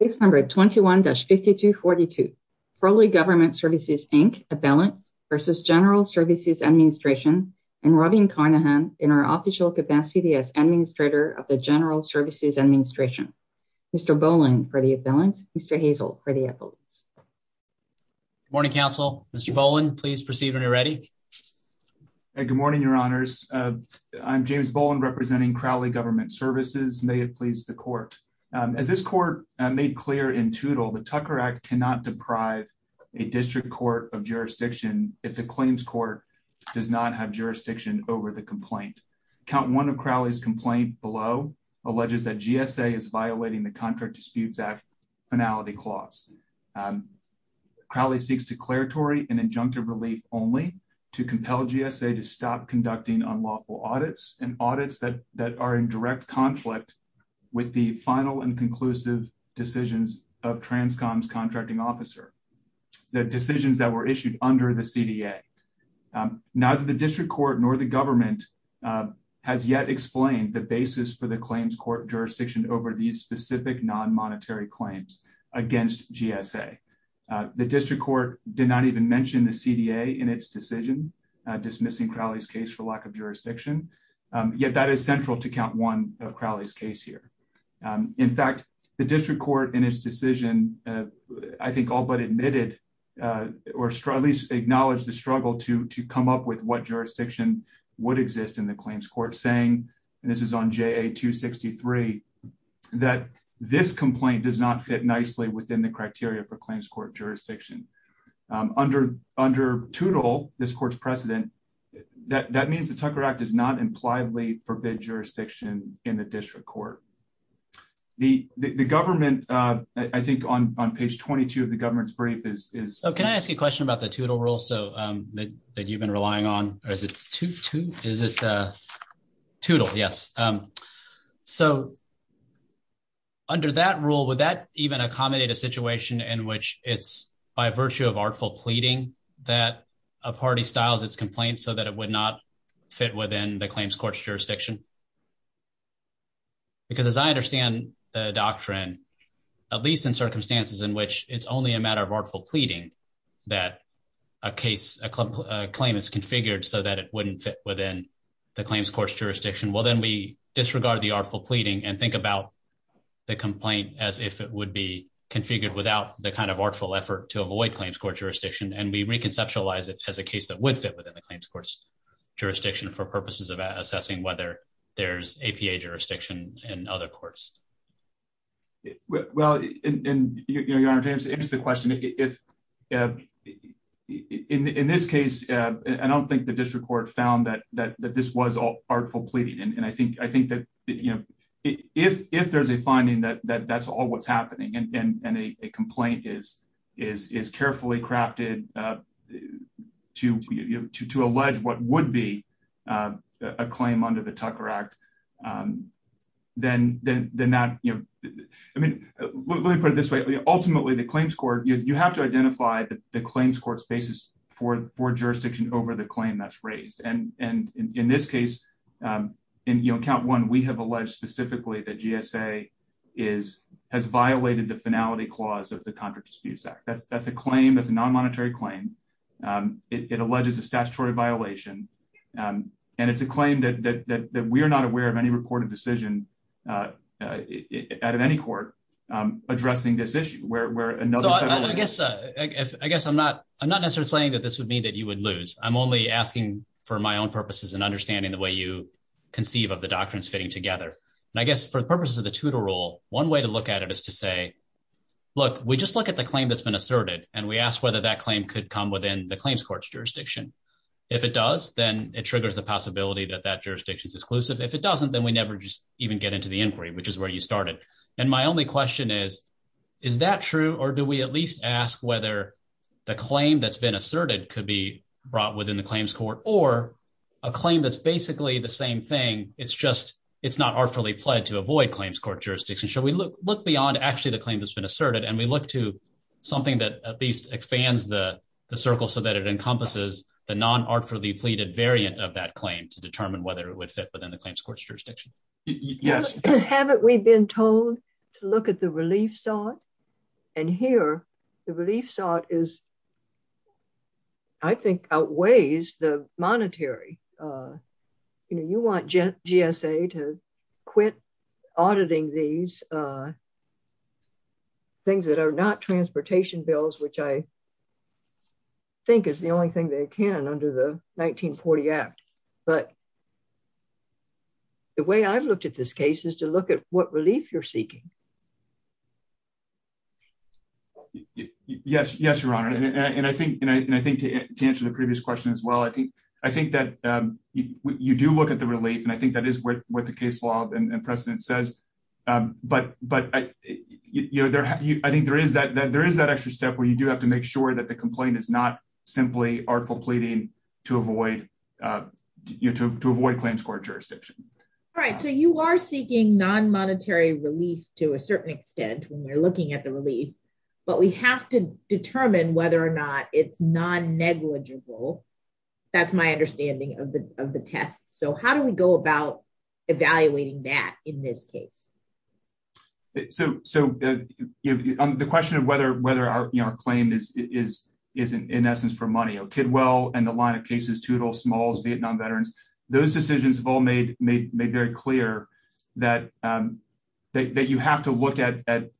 Case number 21-5242, Crowley Government Services, Inc., appellants versus General Services Administration, and Robin Carnahan in her official capacity as Administrator of the General Services Administration. Mr. Boland for the appellant, Mr. Hazel for the appellant. Good morning, counsel. Mr. Boland, please proceed when you're ready. Good morning, your honors. I'm James Boland representing Crowley Government Services. May it please the court. As this court made clear in Toodle, the Tucker Act cannot deprive a district court of jurisdiction if the claims court does not have jurisdiction over the complaint. Count one of Crowley's complaint below alleges that GSA is violating the Contract Disputes Act finality clause. Crowley seeks declaratory and injunctive relief only to compel GSA to stop conducting unlawful audits and audits that are in direct conflict with the final and conclusive decisions of TRANSCOM's contracting officer, the decisions that were issued under the CDA. Neither the district court nor the government has yet explained the basis for the claims court jurisdiction over these specific non-monetary claims against GSA. The district court did not even mention the CDA in its decision dismissing Crowley's case for lack of jurisdiction, yet that is central to count one of Crowley's case here. In fact, the district court in its decision, I think all but admitted or at least acknowledged the struggle to come up with what jurisdiction would exist in the claims court saying, and this is on JA 263, that this complaint does not fit nicely within the criteria for claims court jurisdiction. Under Toodle, this court's precedent, that means the Tucker Act does not impliedly forbid jurisdiction in the district court. The government, I think on page 22 of the government's brief is- So can I ask you a question about the Toodle rule so that you've been relying on, or is it Toodle? Is it Toodle, yes. So under that rule, would that even accommodate a situation in which it's by virtue of artful pleading that a party styles its complaint so that it would not fit within the claims court's jurisdiction? Because as I understand the doctrine, at least in circumstances in which it's only a matter of artful pleading that a claim is configured so that it wouldn't fit within the claims court's jurisdiction. Well, then we disregard the artful pleading and think about the complaint as if it would be configured without the kind of artful effort to avoid claims court jurisdiction. And we reconceptualize it as a case that would fit within the claims court's jurisdiction for purposes of assessing whether there's APA jurisdiction in other courts. Well, and Your Honor, to answer the question, in this case, I don't think the district court found that this was all artful pleading. And I think that if there's a finding that that's all what's happening and a complaint is carefully crafted to allege what would be a claim under the Tucker Act, then that, I mean, let me put it this way. Ultimately, the claims court, you have to identify the claims court's basis for jurisdiction over the claim that's raised. And in this case, in count one, we have alleged specifically that GSA has violated the finality clause of the Contract Dispute Act. That's a claim, that's a non-monetary claim. It alleges a statutory violation. And it's a claim that we are not aware of any reported decision out of any court addressing this issue where another- So I guess I'm not necessarily saying that this would mean that you would lose. I'm only asking for my own purposes and understanding the way you conceive of the doctrines fitting together. And I guess for the purposes of the TUDOR rule, one way to look at it is to say, look, we just look at the claim that's been asserted and we ask whether that claim could come within the claims court's jurisdiction. If it does, then it triggers the possibility that that jurisdiction's exclusive. If it doesn't, then we never just even get into the inquiry, which is where you started. And my only question is, is that true or do we at least ask whether the claim that's been asserted could be brought within the claims court or a claim that's basically the same thing. It's just, it's not artfully pled to avoid claims court jurisdiction. Should we look beyond actually the claim that's been asserted and we look to something that at least expands the circle so that it encompasses the non-artfully pleaded variant of that claim to determine whether it would fit within the claims court's jurisdiction? Yes. Haven't we been told to look at the relief sought? And here, the relief sought is, I think outweighs the monetary. You know, you want GSA to quit auditing these things that are not transportation bills, which I think is the only thing they can under the 1940 Act. But the way I've looked at this case is to look at what relief you're seeking. Yes, Your Honor. And I think to answer the previous question as well, I think that you do look at the relief and I think that is what the case law and precedent says. But I think there is that extra step where you do have to make sure that the complaint is not simply artful pleading to avoid claims court jurisdiction. All right, so you are seeking non-monetary relief to a certain extent when you're looking at the relief, but we have to determine whether or not it's non-negligible. That's my understanding of the test. So how do we go about evaluating that in this case? So the question of whether our claim is in essence for money, Kidwell and the line of cases, Tootles, Smalls, Vietnam Veterans, those decisions have all made very clear that you have to look at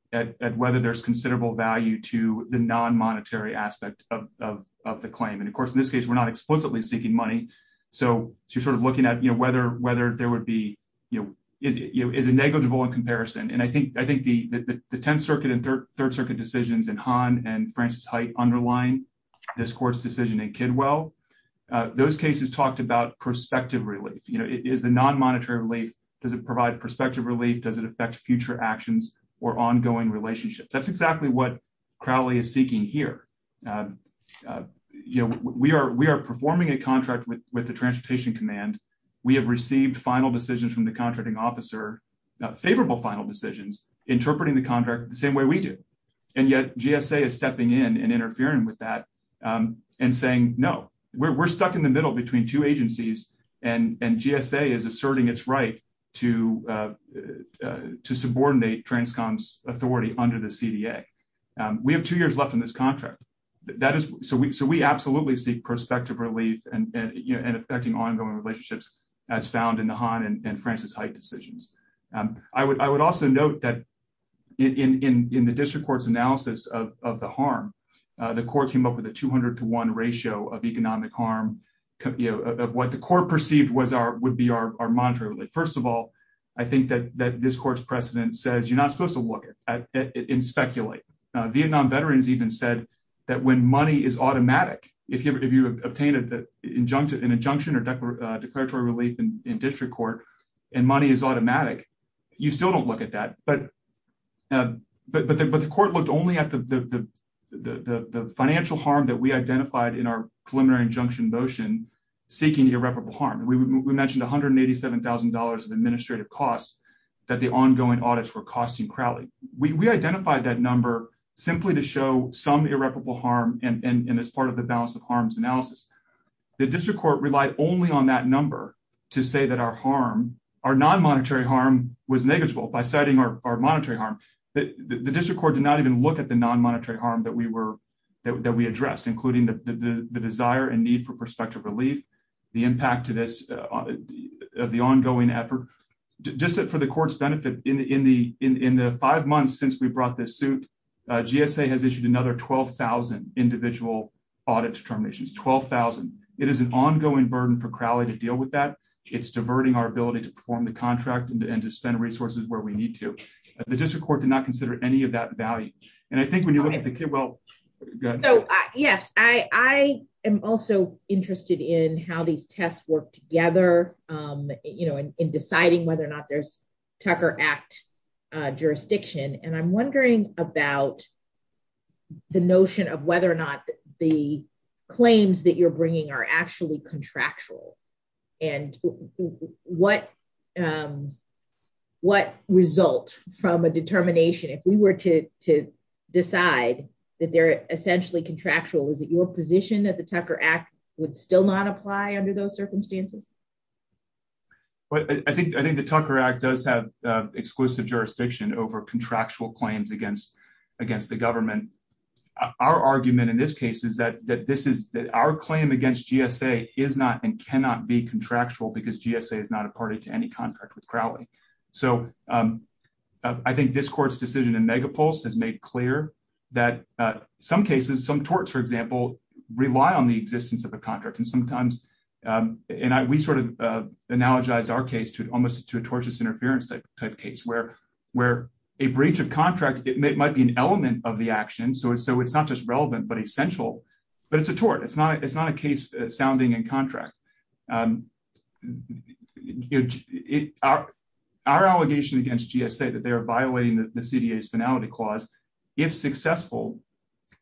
whether there's considerable value to the non-monetary aspect of the claim. And of course, in this case, we're not explicitly seeking money. So you're sort of looking at whether there would be, is it negligible in comparison? And I think the 10th Circuit and Third Circuit decisions in Hahn and Francis Hite underlying this court's decision in Kidwell, those cases talked about prospective relief. Is the non-monetary relief, does it provide prospective relief? Does it affect future actions or ongoing relationships? That's exactly what Crowley is seeking here. You know, we are performing a contract with the Transportation Command. We have received final decisions from the contracting officer, favorable final decisions, interpreting the contract the same way we do. And yet GSA is stepping in and interfering with that and saying, no, we're stuck in the middle between two agencies and GSA is asserting its right to subordinate Transcom's authority under the CDA. We have two years left in this contract. So we absolutely seek prospective relief and affecting ongoing relationships as found in the Hahn and Francis Hite decisions. I would also note that in the district court's analysis of the harm, the court came up with a 200 to one ratio of economic harm. What the court perceived would be our monetary relief. First of all, I think that this court's precedent says you're not supposed to look at it and speculate. Vietnam veterans even said that when money is automatic, if you have obtained an injunction or declaratory relief in district court and money is automatic, you still don't look at that. But the court looked only at the financial harm that we identified in our preliminary injunction motion seeking irreparable harm. We mentioned $187,000 of administrative costs that the ongoing audits were costing Crowley. We identified that number simply to show some irreparable harm and as part of the balance of harms analysis. The district court relied only on that number to say that our harm, our non-monetary harm was negligible by citing our monetary harm. The district court did not even look at the non-monetary harm that we addressed, including the desire and need for prospective relief, the impact to this of the ongoing effort. Just for the court's benefit, in the five months since we brought this suit, GSA has issued another 12,000 individual audit determinations, 12,000. It is an ongoing burden for Crowley to deal with that. It's diverting our ability to perform the contract and to spend resources where we need to. The district court did not consider any of that value. And I think when you look at the, well, go ahead. So, yes, I am also interested in how these tests work together, in deciding whether or not there's Tucker Act jurisdiction. And I'm wondering about the notion of whether or not the claims that you're bringing are actually contractual and what result from a determination, if we were to decide that they're essentially contractual, is it your position that the Tucker Act would still not apply under those circumstances? Well, I think the Tucker Act does have exclusive jurisdiction over contractual claims against the government. Our argument in this case is that this is, that our claim against GSA is not and cannot be contractual because GSA is not a party to any contract with Crowley. So I think this court's decision in Megapulse has made clear that some cases, some torts, for example, rely on the existence of a contract. And sometimes, and we sort of analogize our case to almost to a tortious interference type case, where a breach of contract, it might be an element of the action. So it's not just relevant, but essential, but it's a tort. It's not a case sounding in contract. Our allegation against GSA that they are violating the CDA's finality clause, if successful,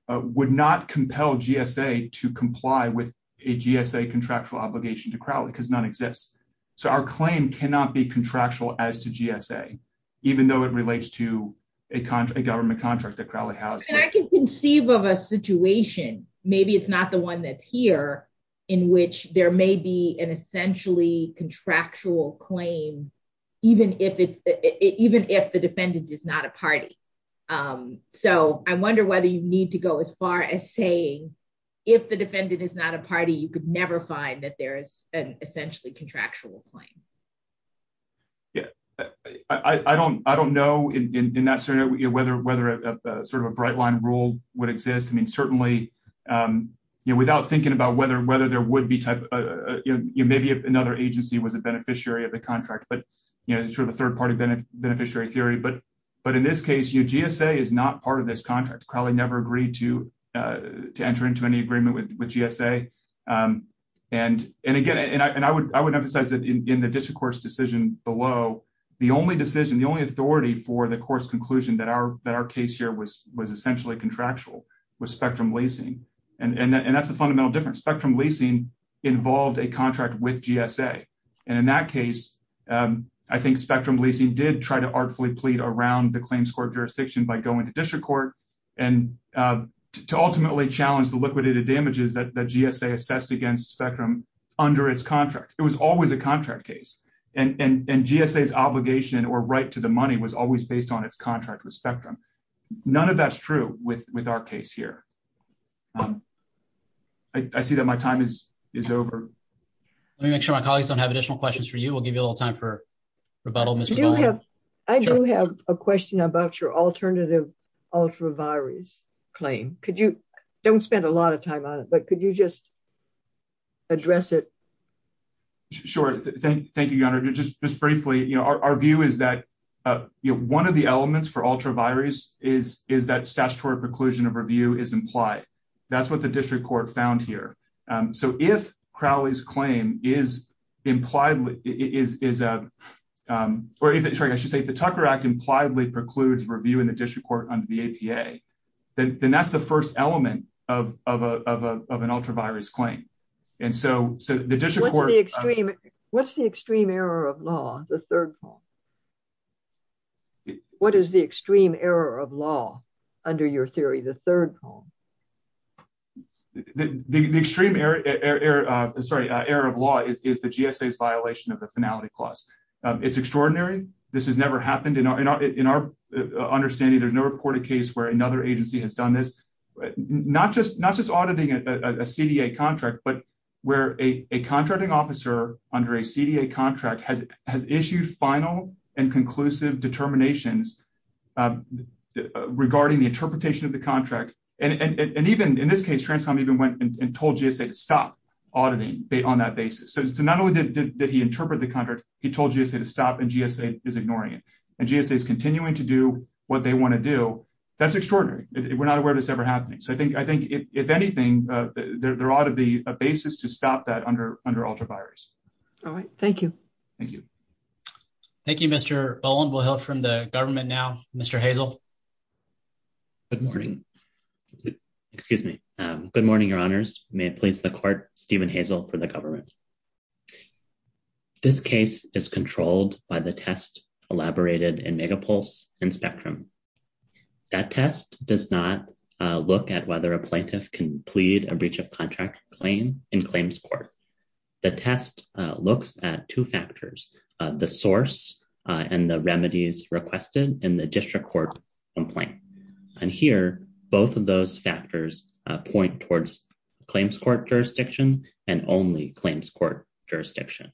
would not compel GSA to comply with a GSA contractual obligation to Crowley because none exists. So our claim cannot be contractual as to GSA, even though it relates to a government contract that Crowley has. And I can conceive of a situation, maybe it's not the one that's here, in which there may be an essentially contractual claim, even if the defendant is not a party. So I wonder whether you need to go as far as saying, if the defendant is not a party, you could never find that there is an essentially contractual claim. Yeah, I don't know in that sort of, whether sort of a bright line rule would exist. I mean, certainly, without thinking about whether there would be type of, maybe if another agency was a beneficiary of the contract, sort of a third-party beneficiary theory. But in this case, GSA is not part of this contract. Crowley never agreed to enter into any agreement with GSA. And again, and I would emphasize that in the district court's decision below, the only decision, the only authority for the court's conclusion that our case here was essentially contractual was Spectrum Leasing. And that's the fundamental difference. Spectrum Leasing involved a contract with GSA. And in that case, I think Spectrum Leasing did try to artfully plead around the claims court jurisdiction by going to district court and to ultimately challenge the liquidated damages that GSA assessed against Spectrum under its contract. It was always a contract case. And GSA's obligation or right to the money was always based on its contract with Spectrum. None of that's true with our case here. I see that my time is over. Let me make sure my colleagues don't have additional questions for you. We'll give you a little time for rebuttal, Ms. McGowan. I do have a question about your alternative ultra-virus claim. Could you, don't spend a lot of time on it, but could you just address it? Sure, thank you, Your Honor. Just briefly, our view is that one of the elements for ultra-virus is that statutory preclusion of review is implied. That's what the district court found here. So if Crowley's claim is implied, is a, or I should say the Tucker Act impliedly precludes review in the district court under the APA, then that's the first element of an ultra-virus claim. And so the district court- What's the extreme error of law, the third column? What is the extreme error of law under your theory, the third column? The extreme error, sorry, error of law is the GSA's violation of the finality clause. It's extraordinary. This has never happened in our understanding. There's no reported case where another agency has done this. Not just auditing a CDA contract, but where a contracting officer under a CDA contract has issued final and conclusive determinations regarding the interpretation of the contract. And even in this case, Transcom even went and told GSA to stop auditing on that basis. So not only did he interpret the contract, he told GSA to stop and GSA is ignoring it. And GSA is continuing to do what they want to do. That's extraordinary. We're not aware of this ever happening. So I think if anything, there ought to be a basis to stop that under ultra-virus. All right, thank you. Thank you. Thank you, Mr. Boland. We'll hear from the government now. Mr. Hazel. Good morning. Excuse me. Good morning, your honors. May it please the court, Stephen Hazel for the government. This case is controlled by the test elaborated in Megapulse and Spectrum. That test does not look at whether a plaintiff can plead a breach of contract claim in claims court. The test looks at two factors, the source and the remedies requested in the district court process. One point. And here, both of those factors point towards claims court jurisdiction and only claims court jurisdiction.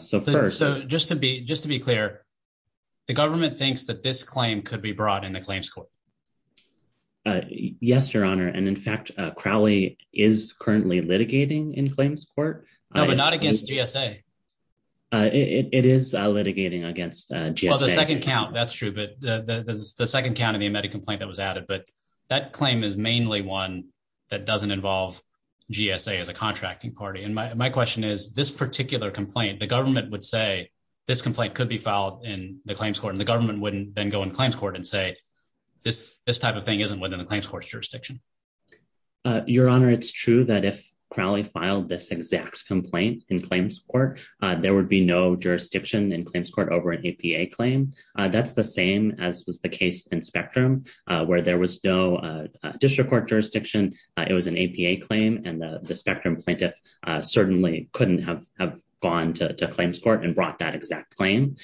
So first- So just to be clear, the government thinks that this claim could be brought in the claims court. Yes, your honor. And in fact, Crowley is currently litigating in claims court. No, but not against GSA. It is litigating against GSA. Well, the second count, that's true. But the second count of the amended complaint that was added, but that claim is mainly one that doesn't involve GSA as a contracting party. And my question is this particular complaint, the government would say this complaint could be filed in the claims court and the government wouldn't then go in claims court and say, this type of thing isn't within the claims court's jurisdiction. Your honor, it's true that if Crowley filed this exact complaint in claims court, there would be no jurisdiction in claims court over an APA claim. That's the same as was the case in Spectrum where there was no district court jurisdiction. It was an APA claim and the Spectrum plaintiff certainly couldn't have gone to claims court and brought that exact claim.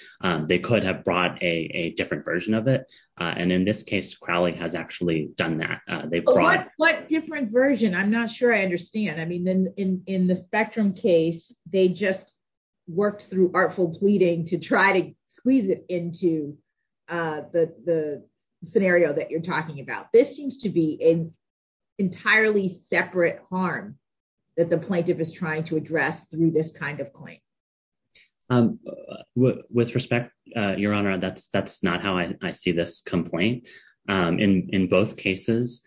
They could have brought a different version of it. And in this case, Crowley has actually done that. They brought- What different version? I'm not sure I understand. I mean, in the Spectrum case, they just worked through artful pleading to try to squeeze it into the scenario that you're talking about. This seems to be an entirely separate harm that the plaintiff is trying to address through this kind of claim. With respect, your honor, that's not how I see this complaint. In both cases,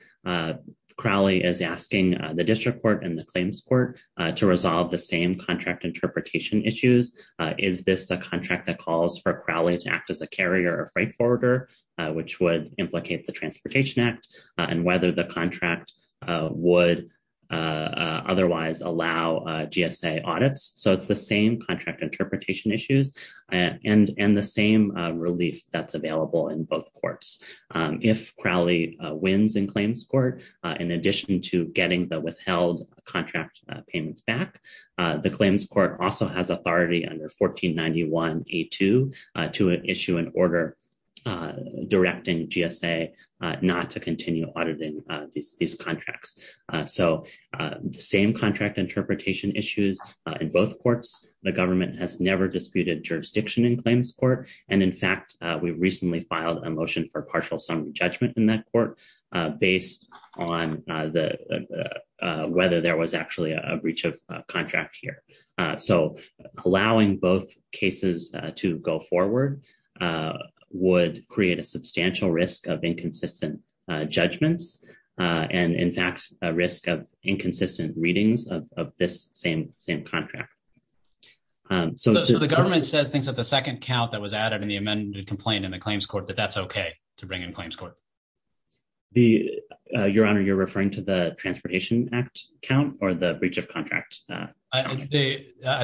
Crowley is asking the district court and the claims court to resolve the same contract interpretation issues. Is this a contract that calls for Crowley to act as a carrier or freight forwarder, which would implicate the Transportation Act and whether the contract would otherwise allow GSA audits? So it's the same contract interpretation issues and the same relief that's available in both courts. If Crowley wins in claims court, in addition to getting the withheld contract payments back, the claims court also has authority under 1491A2 to issue an order directing GSA not to continue auditing these contracts. So the same contract interpretation issues in both courts. The government has never disputed jurisdiction in claims court. And in fact, we recently filed a motion for partial summary judgment in that court based on whether there was actually a breach of contract here. So allowing both cases to go forward would create a substantial risk of inconsistent judgments. And in fact, a risk of inconsistent readings of this same contract. So the government says things like the second count that was added in the amended complaint in the claims court that that's okay to bring in claims court. Your honor, you're referring to the Transportation Act count or the breach of contract? I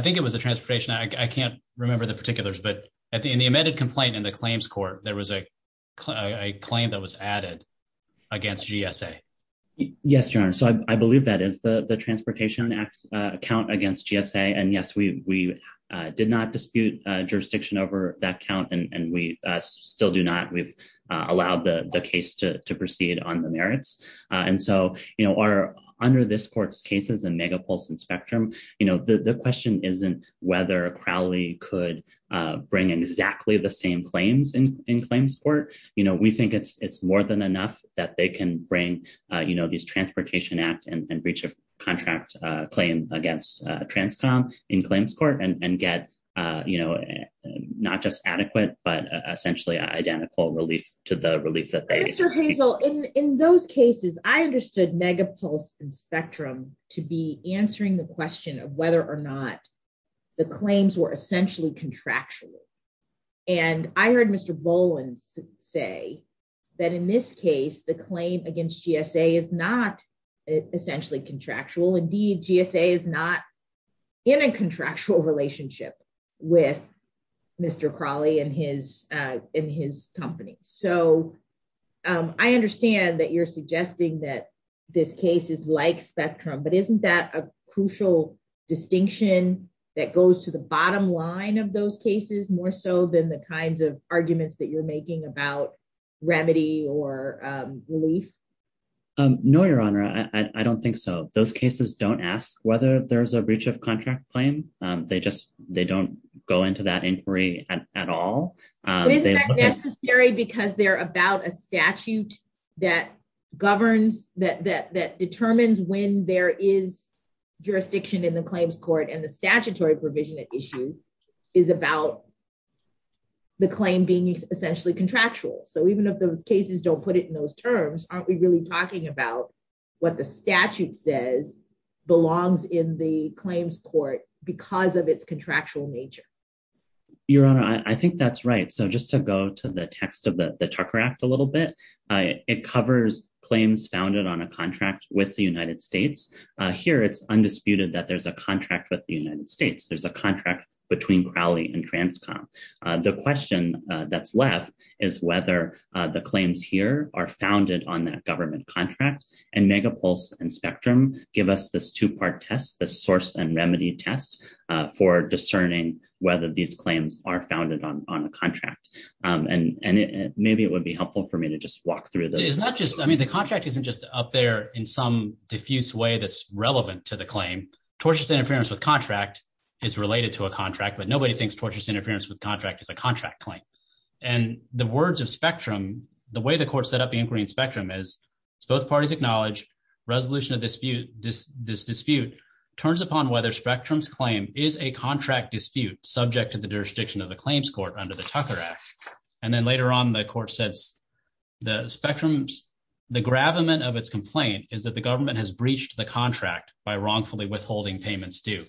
think it was the transportation. I can't remember the particulars, but in the amended complaint in the claims court, there was a claim that was added against GSA. Yes, your honor. So I believe that is the Transportation Act count against GSA. And yes, we did not dispute jurisdiction over that count and we still do not. We've allowed the case to proceed on the merits. And so under this court's cases and megapulse and spectrum, the question isn't whether Crowley could bring in exactly the same claims in claims court. We think it's more than enough that they can bring these Transportation Act and breach of contract claim against Transcom in claims court and get not just adequate, but essentially identical relief to the relief that they- Mr. Hazel, in those cases, I understood megapulse and spectrum to be answering the question of whether or not the claims were essentially contractual. And I heard Mr. Boland say that in this case, the claim against GSA is not essentially contractual. Indeed, GSA is not in a contractual relationship with Mr. Crowley and his company. So I understand that you're suggesting that this case is like spectrum, but isn't that a crucial distinction that goes to the bottom line of those cases more so than the kinds of arguments that you're making about remedy or relief? No, Your Honor, I don't think so. Those cases don't ask whether there's a breach of contract claim. They just, they don't go into that inquiry at all. Isn't that necessary because they're about a statute that governs, that determines when there is jurisdiction in the claims court and the statutory provision at issue is about the claim being essentially contractual. So even if those cases don't put it in those terms, aren't we really talking about what the statute says belongs in the claims court because of its contractual nature? Your Honor, I think that's right. So just to go to the text of the Tucker Act a little bit, it covers claims founded on a contract with the United States. Here, it's undisputed that there's a contract with the United States. There's a contract between Crowley and Transcom. The question that's left is whether the claims here are founded on that government contract and Megapulse and Spectrum give us this two-part test, the source and remedy test for discerning whether these claims are founded on a contract. And maybe it would be helpful for me to just walk through this. I mean, the contract isn't just up there in some diffuse way that's relevant to the claim. Tortious interference with contract is related to a contract, but nobody thinks tortious interference with contract is a contract claim. And the words of Spectrum, the way the court set up the inquiry in Spectrum is both parties acknowledge resolution of this dispute turns upon whether Spectrum's claim is a contract dispute subject to the jurisdiction of the claims court under the Tucker Act. And then later on, the court says the Spectrum's, the gravamen of its complaint is that the government has breached the contract by wrongfully withholding payments due.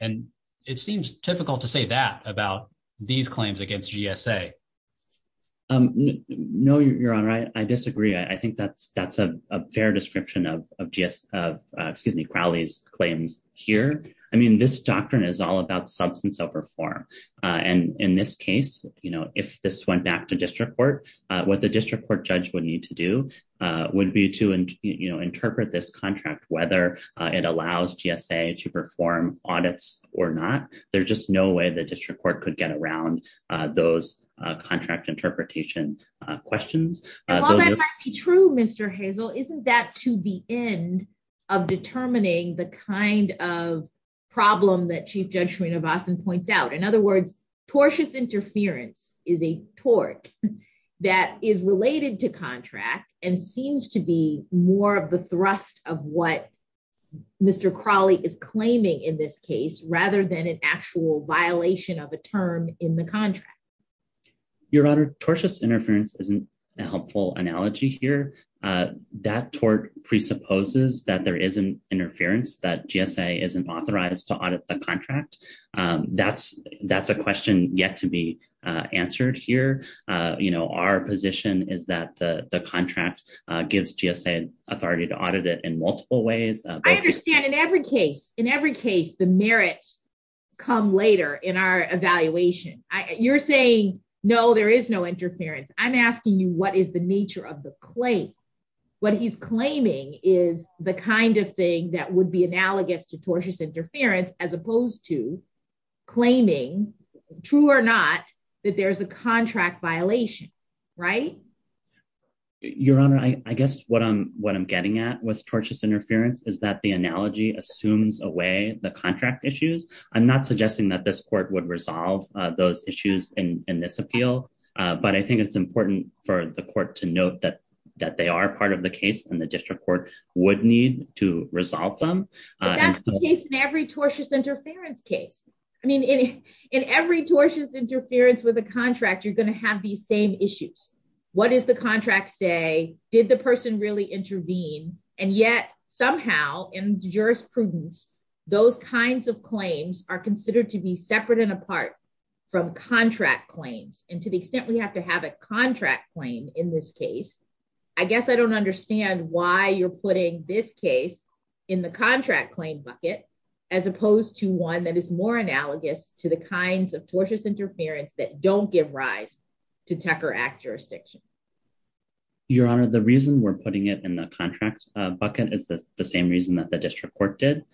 And it seems difficult to say that about these claims against GSA. No, Your Honor, I disagree. I think that's a fair description of GS, excuse me, Crowley's claims here. I mean, this doctrine is all about substance of reform. And in this case, if this went back to district court, what the district court judge would need to do would be to interpret this contract, whether it allows GSA to perform audits or not. There's just no way the district court could get around those contract interpretation questions. While that might be true, Mr. Hazel, isn't that to the end of determining the kind of problem that Chief Judge Srinivasan points out? In other words, tortious interference is a tort that is related to contract and seems to be more of the thrust of what Mr. Crowley is claiming in this case rather than an actual violation of a term in the contract. Your Honor, tortious interference isn't a helpful analogy here. That tort presupposes that there is an interference, that GSA isn't authorized to audit the contract. That's a question yet to be answered here. Our position is that the contract gives GSA authority to audit it in multiple ways. I understand, in every case, in every case the merits come later in our evaluation. You're saying, no, there is no interference. I'm asking you, what is the nature of the claim? What he's claiming is the kind of thing that would be analogous to tortious interference as opposed to claiming, true or not, that there's a contract violation, right? Your Honor, I guess what I'm getting at with tortious interference is that the analogy assumes away the contract issues. I'm not suggesting that this court would resolve those issues in this appeal, but I think it's important for the court to note that they are part of the case and the district court would need to resolve them. But that's the case in every tortious interference case. I mean, in every tortious interference with a contract, you're gonna have these same issues. What does the contract say? Did the person really intervene? And yet somehow in jurisprudence, those kinds of claims are considered to be separate and apart from contract claims. And to the extent we have to have a contract claim in this case, I guess I don't understand why you're putting this case in the contract claim bucket as opposed to one that is more analogous to the kinds of tortious interference that don't give rise to Tucker Act jurisdiction. Your Honor, the reason we're putting it in the contract bucket is the same reason that the district court did.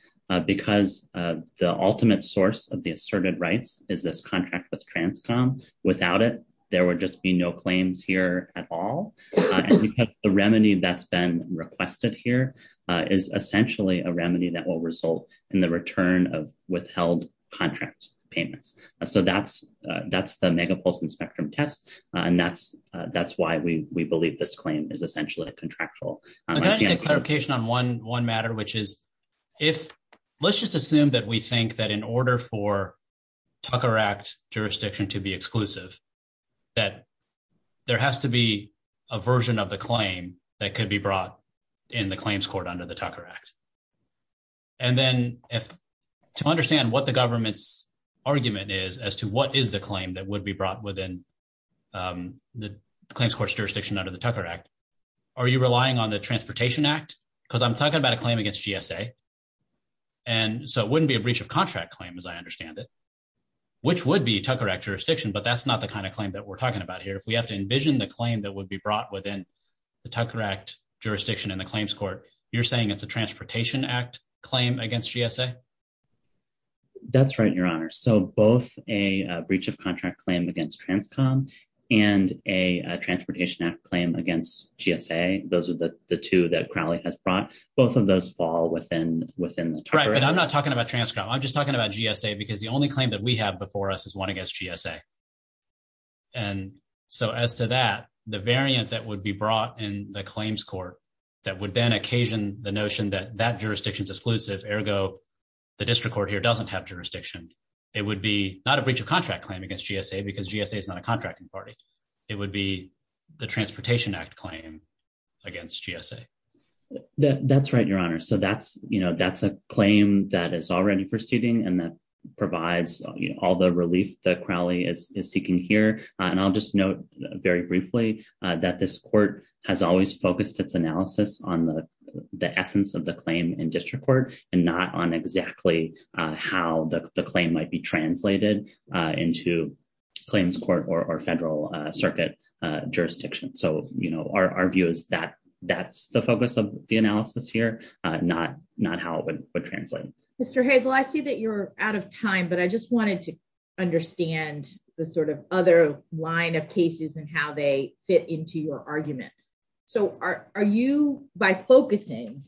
Because the ultimate source of the asserted rights is this contract with Transcom. Without it, there would just be no claims here at all. And because the remedy that's been requested here is essentially a remedy that will result in the return of withheld contract payments. So that's the megapulse and spectrum test. And that's why we believe this claim is essentially a contractual. I'm gonna get clarification on one matter, which is if, let's just assume that we think that in order for Tucker Act jurisdiction to be exclusive, that there has to be a version of the claim that could be brought in the claims court under the Tucker Act. And then to understand what the government's argument is as to what is the claim that would be brought within the claims court's jurisdiction under the Tucker Act, are you relying on the Transportation Act? Because I'm talking about a claim against GSA. And so it wouldn't be a breach of contract claim as I understand it, which would be Tucker Act jurisdiction, but that's not the kind of claim that we're talking about here. If we have to envision the claim that would be brought within the Tucker Act jurisdiction in the claims court, you're saying it's a Transportation Act claim against GSA? That's right, Your Honor. So both a breach of contract claim against Transcom and a Transportation Act claim against GSA, those are the two that Crowley has brought, both of those fall within the Tucker Act. Right, but I'm not talking about Transcom, I'm just talking about GSA, because the only claim that we have before us is one against GSA. And so as to that, the variant that would be brought in the claims court that would then occasion the notion that that jurisdiction's exclusive, ergo the district court here doesn't have jurisdiction, it would be not a breach of contract claim against GSA because GSA is not a contracting party. It would be the Transportation Act claim against GSA. That's right, Your Honor. So that's a claim that is already proceeding and that provides all the relief that Crowley is seeking here. And I'll just note very briefly that this court has always focused its analysis on the essence of the claim in district court and not on exactly how the claim might be translated into claims court or federal circuit jurisdiction. So our view is that that's the focus of the analysis here, not how it would translate. Mr. Hazel, I see that you're out of time, but I just wanted to understand the sort of other line of cases and how they fit into your argument. So are you, by focusing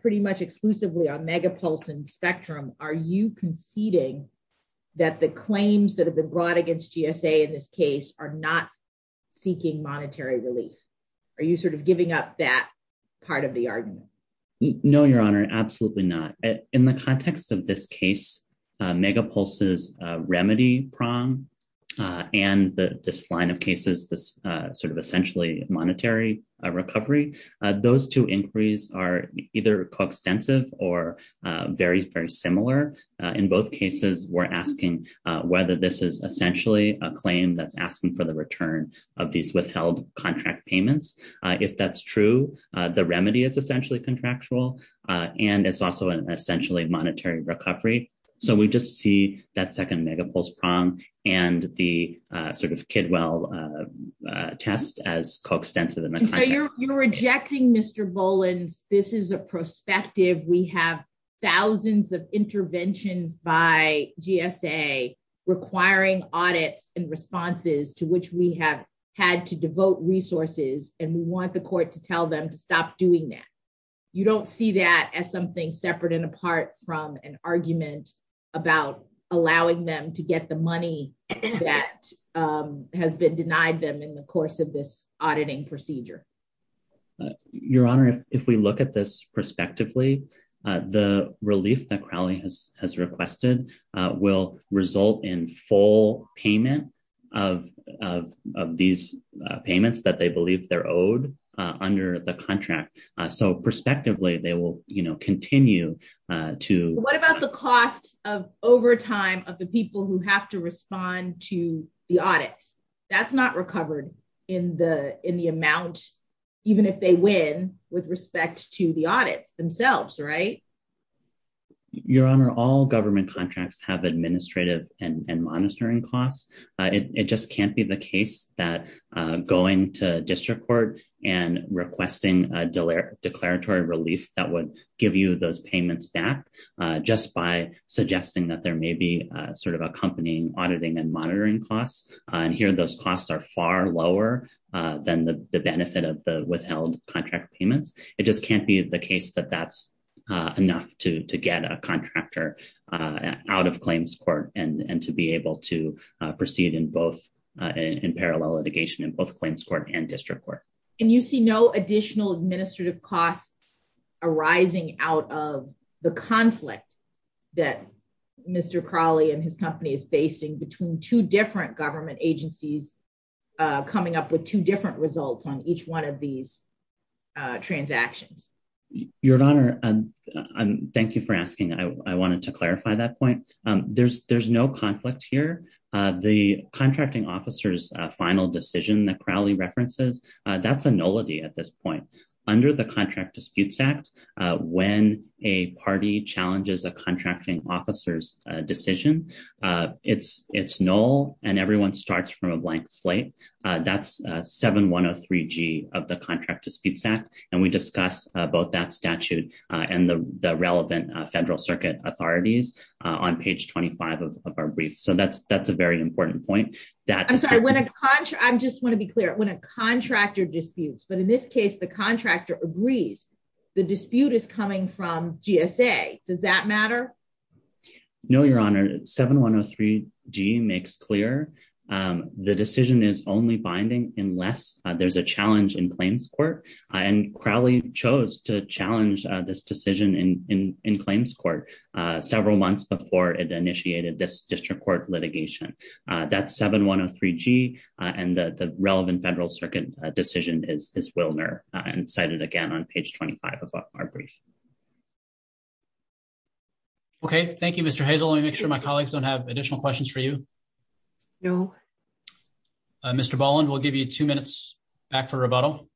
pretty much exclusively on Megapulse and Spectrum, are you conceding that the claims that have been brought against GSA in this case are not seeking monetary relief? Are you sort of giving up that part of the argument? No, Your Honor, absolutely not. In the context of this case, Megapulse's remedy prong and this line of cases, this sort of essentially monetary recovery, those two inquiries are either coextensive or very, very similar. In both cases, we're asking whether this is essentially a claim that's asking for the return of these withheld contract payments. If that's true, the remedy is essentially contractual and it's also an essentially monetary recovery. So we just see that second Megapulse prong and the sort of Kidwell test as coextensive in the context. You're rejecting Mr. Boland's, this is a prospective. We have thousands of interventions by GSA requiring audits and responses to which we have had to devote resources and we want the court to tell them to stop doing that. You don't see that as something separate and apart from an argument about allowing them to get the money that has been denied them in the course of this auditing procedure. Your Honor, if we look at this prospectively, the relief that Crowley has requested will result in full payment of these payments that they believe they're owed under the contract. So prospectively, they will continue to- What about the cost of overtime of the people who have to respond to the audits? That's not recovered in the amount, even if they win with respect to the audits themselves. Your Honor, all government contracts have administrative and monitoring costs. It just can't be the case that going to district court and requesting a declaratory relief that would give you those payments back just by suggesting that there may be sort of accompanying auditing and monitoring costs. Here, those costs are far lower than the benefit of the withheld contract payments. It just can't be the case that that's enough to get a contractor out of claims court and to be able to proceed in parallel litigation in both claims court and district court. And you see no additional administrative costs arising out of the conflict that Mr. Crowley and his company is facing between two different government agencies coming up with two different results on each one of these transactions. Your Honor, thank you for asking. I wanted to clarify that point. There's no conflict here. The contracting officer's final decision that Crowley references, that's a nullity at this point. Under the Contract Disputes Act, when a party challenges a contracting officer's decision, it's null and everyone starts from a blank slate. That's 7103G of the Contract Disputes Act. And we discuss both that statute and the relevant federal circuit authorities on page 25 of our brief. So that's a very important point. That- I'm sorry, I just wanna be clear. When a contractor disputes, the dispute is coming from GSA. Does that matter? No, Your Honor. 7103G makes clear the decision is only binding unless there's a challenge in claims court. And Crowley chose to challenge this decision in claims court several months before it initiated this district court litigation. That's 7103G and the relevant federal circuit decision is Wilner and cited again on page 25 of our brief. Okay, thank you, Mr. Hazel. Let me make sure my colleagues don't have additional questions for you. No. Mr. Boland, we'll give you two minutes back for rebuttal.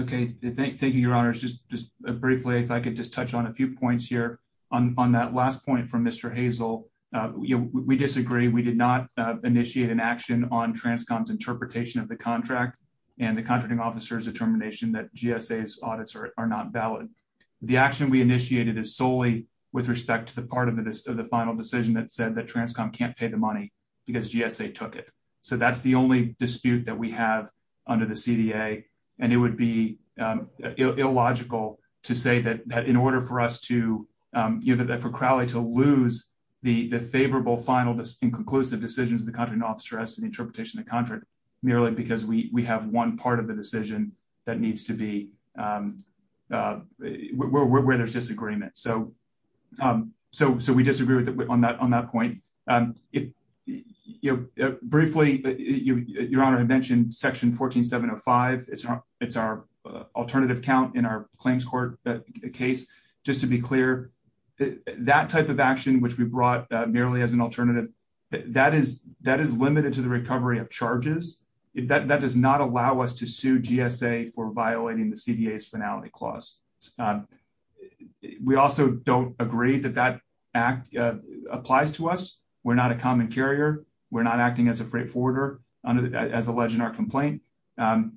Okay, thank you, Your Honor. Just briefly, if I could just touch on a few points here on that last point from Mr. Hazel. We disagree. We did not initiate an action on TRANSCOM's interpretation of the contract and the contracting officer's determination that GSA's audits are not valid. The action we initiated is solely with respect to the part of the final decision that said that TRANSCOM can't pay the money because GSA took it. So that's the only dispute that we have under the CDA. And it would be illogical to say that in order for us to, you know, for Crowley to lose the favorable final and conclusive decisions of the contracting officer as to the interpretation of the contract merely because we have one part of the decision that needs to be, where there's disagreement. So we disagree on that point. Briefly, Your Honor, I mentioned section 14705. It's our alternative count in our claims court case. Just to be clear, that type of action which we brought merely as an alternative, that is limited to the recovery of charges. That does not allow us to sue GSA for violating the CDA's finality clause. We also don't agree that that act applies to us. We're not a common carrier. We're not acting as a freight forwarder as alleged in our complaint. And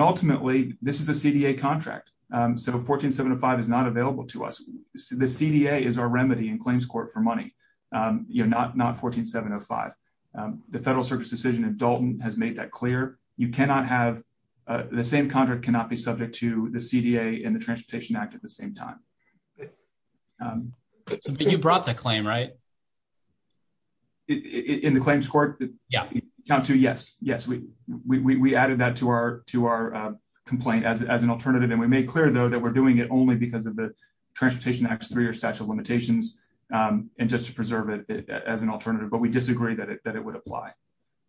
ultimately, this is a CDA contract. So 14705 is not available to us. The CDA is our remedy in claims court for money, you know, not 14705. The Federal Circuit's decision in Dalton has made that clear. You cannot have, the same contract cannot be subject to the CDA and the Transportation Act at the same time. But you brought the claim, right? In the claims court? Yeah. Count two, yes. Yes, we added that to our complaint as an alternative. And we made clear though that we're doing it only because of the Transportation Act's three or statute of limitations and just to preserve it as an alternative. But we disagree that it would apply.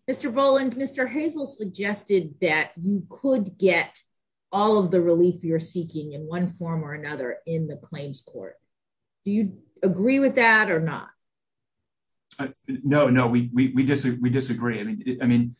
Mr. Boland, Mr. Hazel suggested that you could get all of the relief you're seeking in one form or another in the claims court. Do you agree with that or not? No, no, we disagree. I mean,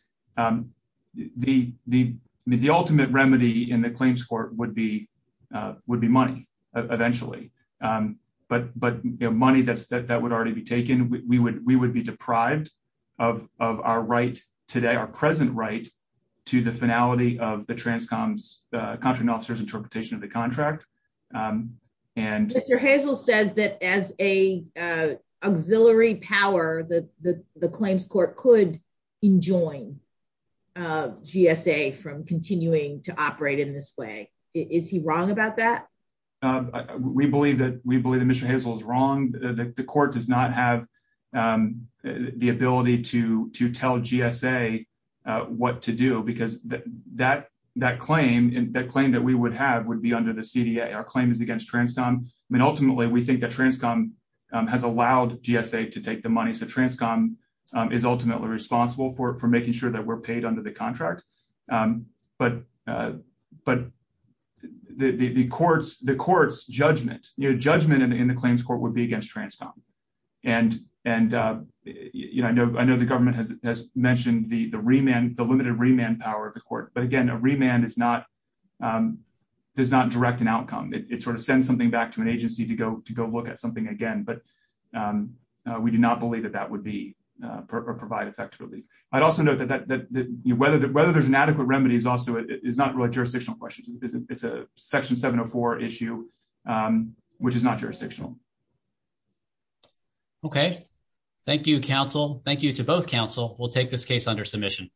the ultimate remedy in the claims court would be money eventually. But money that would already be taken, we would be deprived of our right today, our present right to the finality of the transcoms, the contracting officer's interpretation of the contract. And- Mr. Hazel says that as a auxiliary power, the claims court could enjoin GSA from continuing to operate in this way. Is he wrong about that? We believe that Mr. Hazel is wrong. The court does not have the ability to tell GSA what to do because that claim that we would have would be under the CDA. Our claim is against transcom. I mean, ultimately we think that transcom has allowed GSA to take the money. So transcom is ultimately responsible for making sure that we're paid under the contract. But the court's judgment in the claims court would be against transcom. And I know the government has mentioned the remand, the limited remand power of the court. But again, a remand does not direct an outcome. It sort of sends something back to an agency to go look at something again. But we do not believe that that would provide effectively. I'd also note that whether there's an adequate remedy is not really jurisdictional questions. It's a section 704 issue, which is not jurisdictional. Okay, thank you, counsel. Thank you to both counsel. We'll take this case under submission.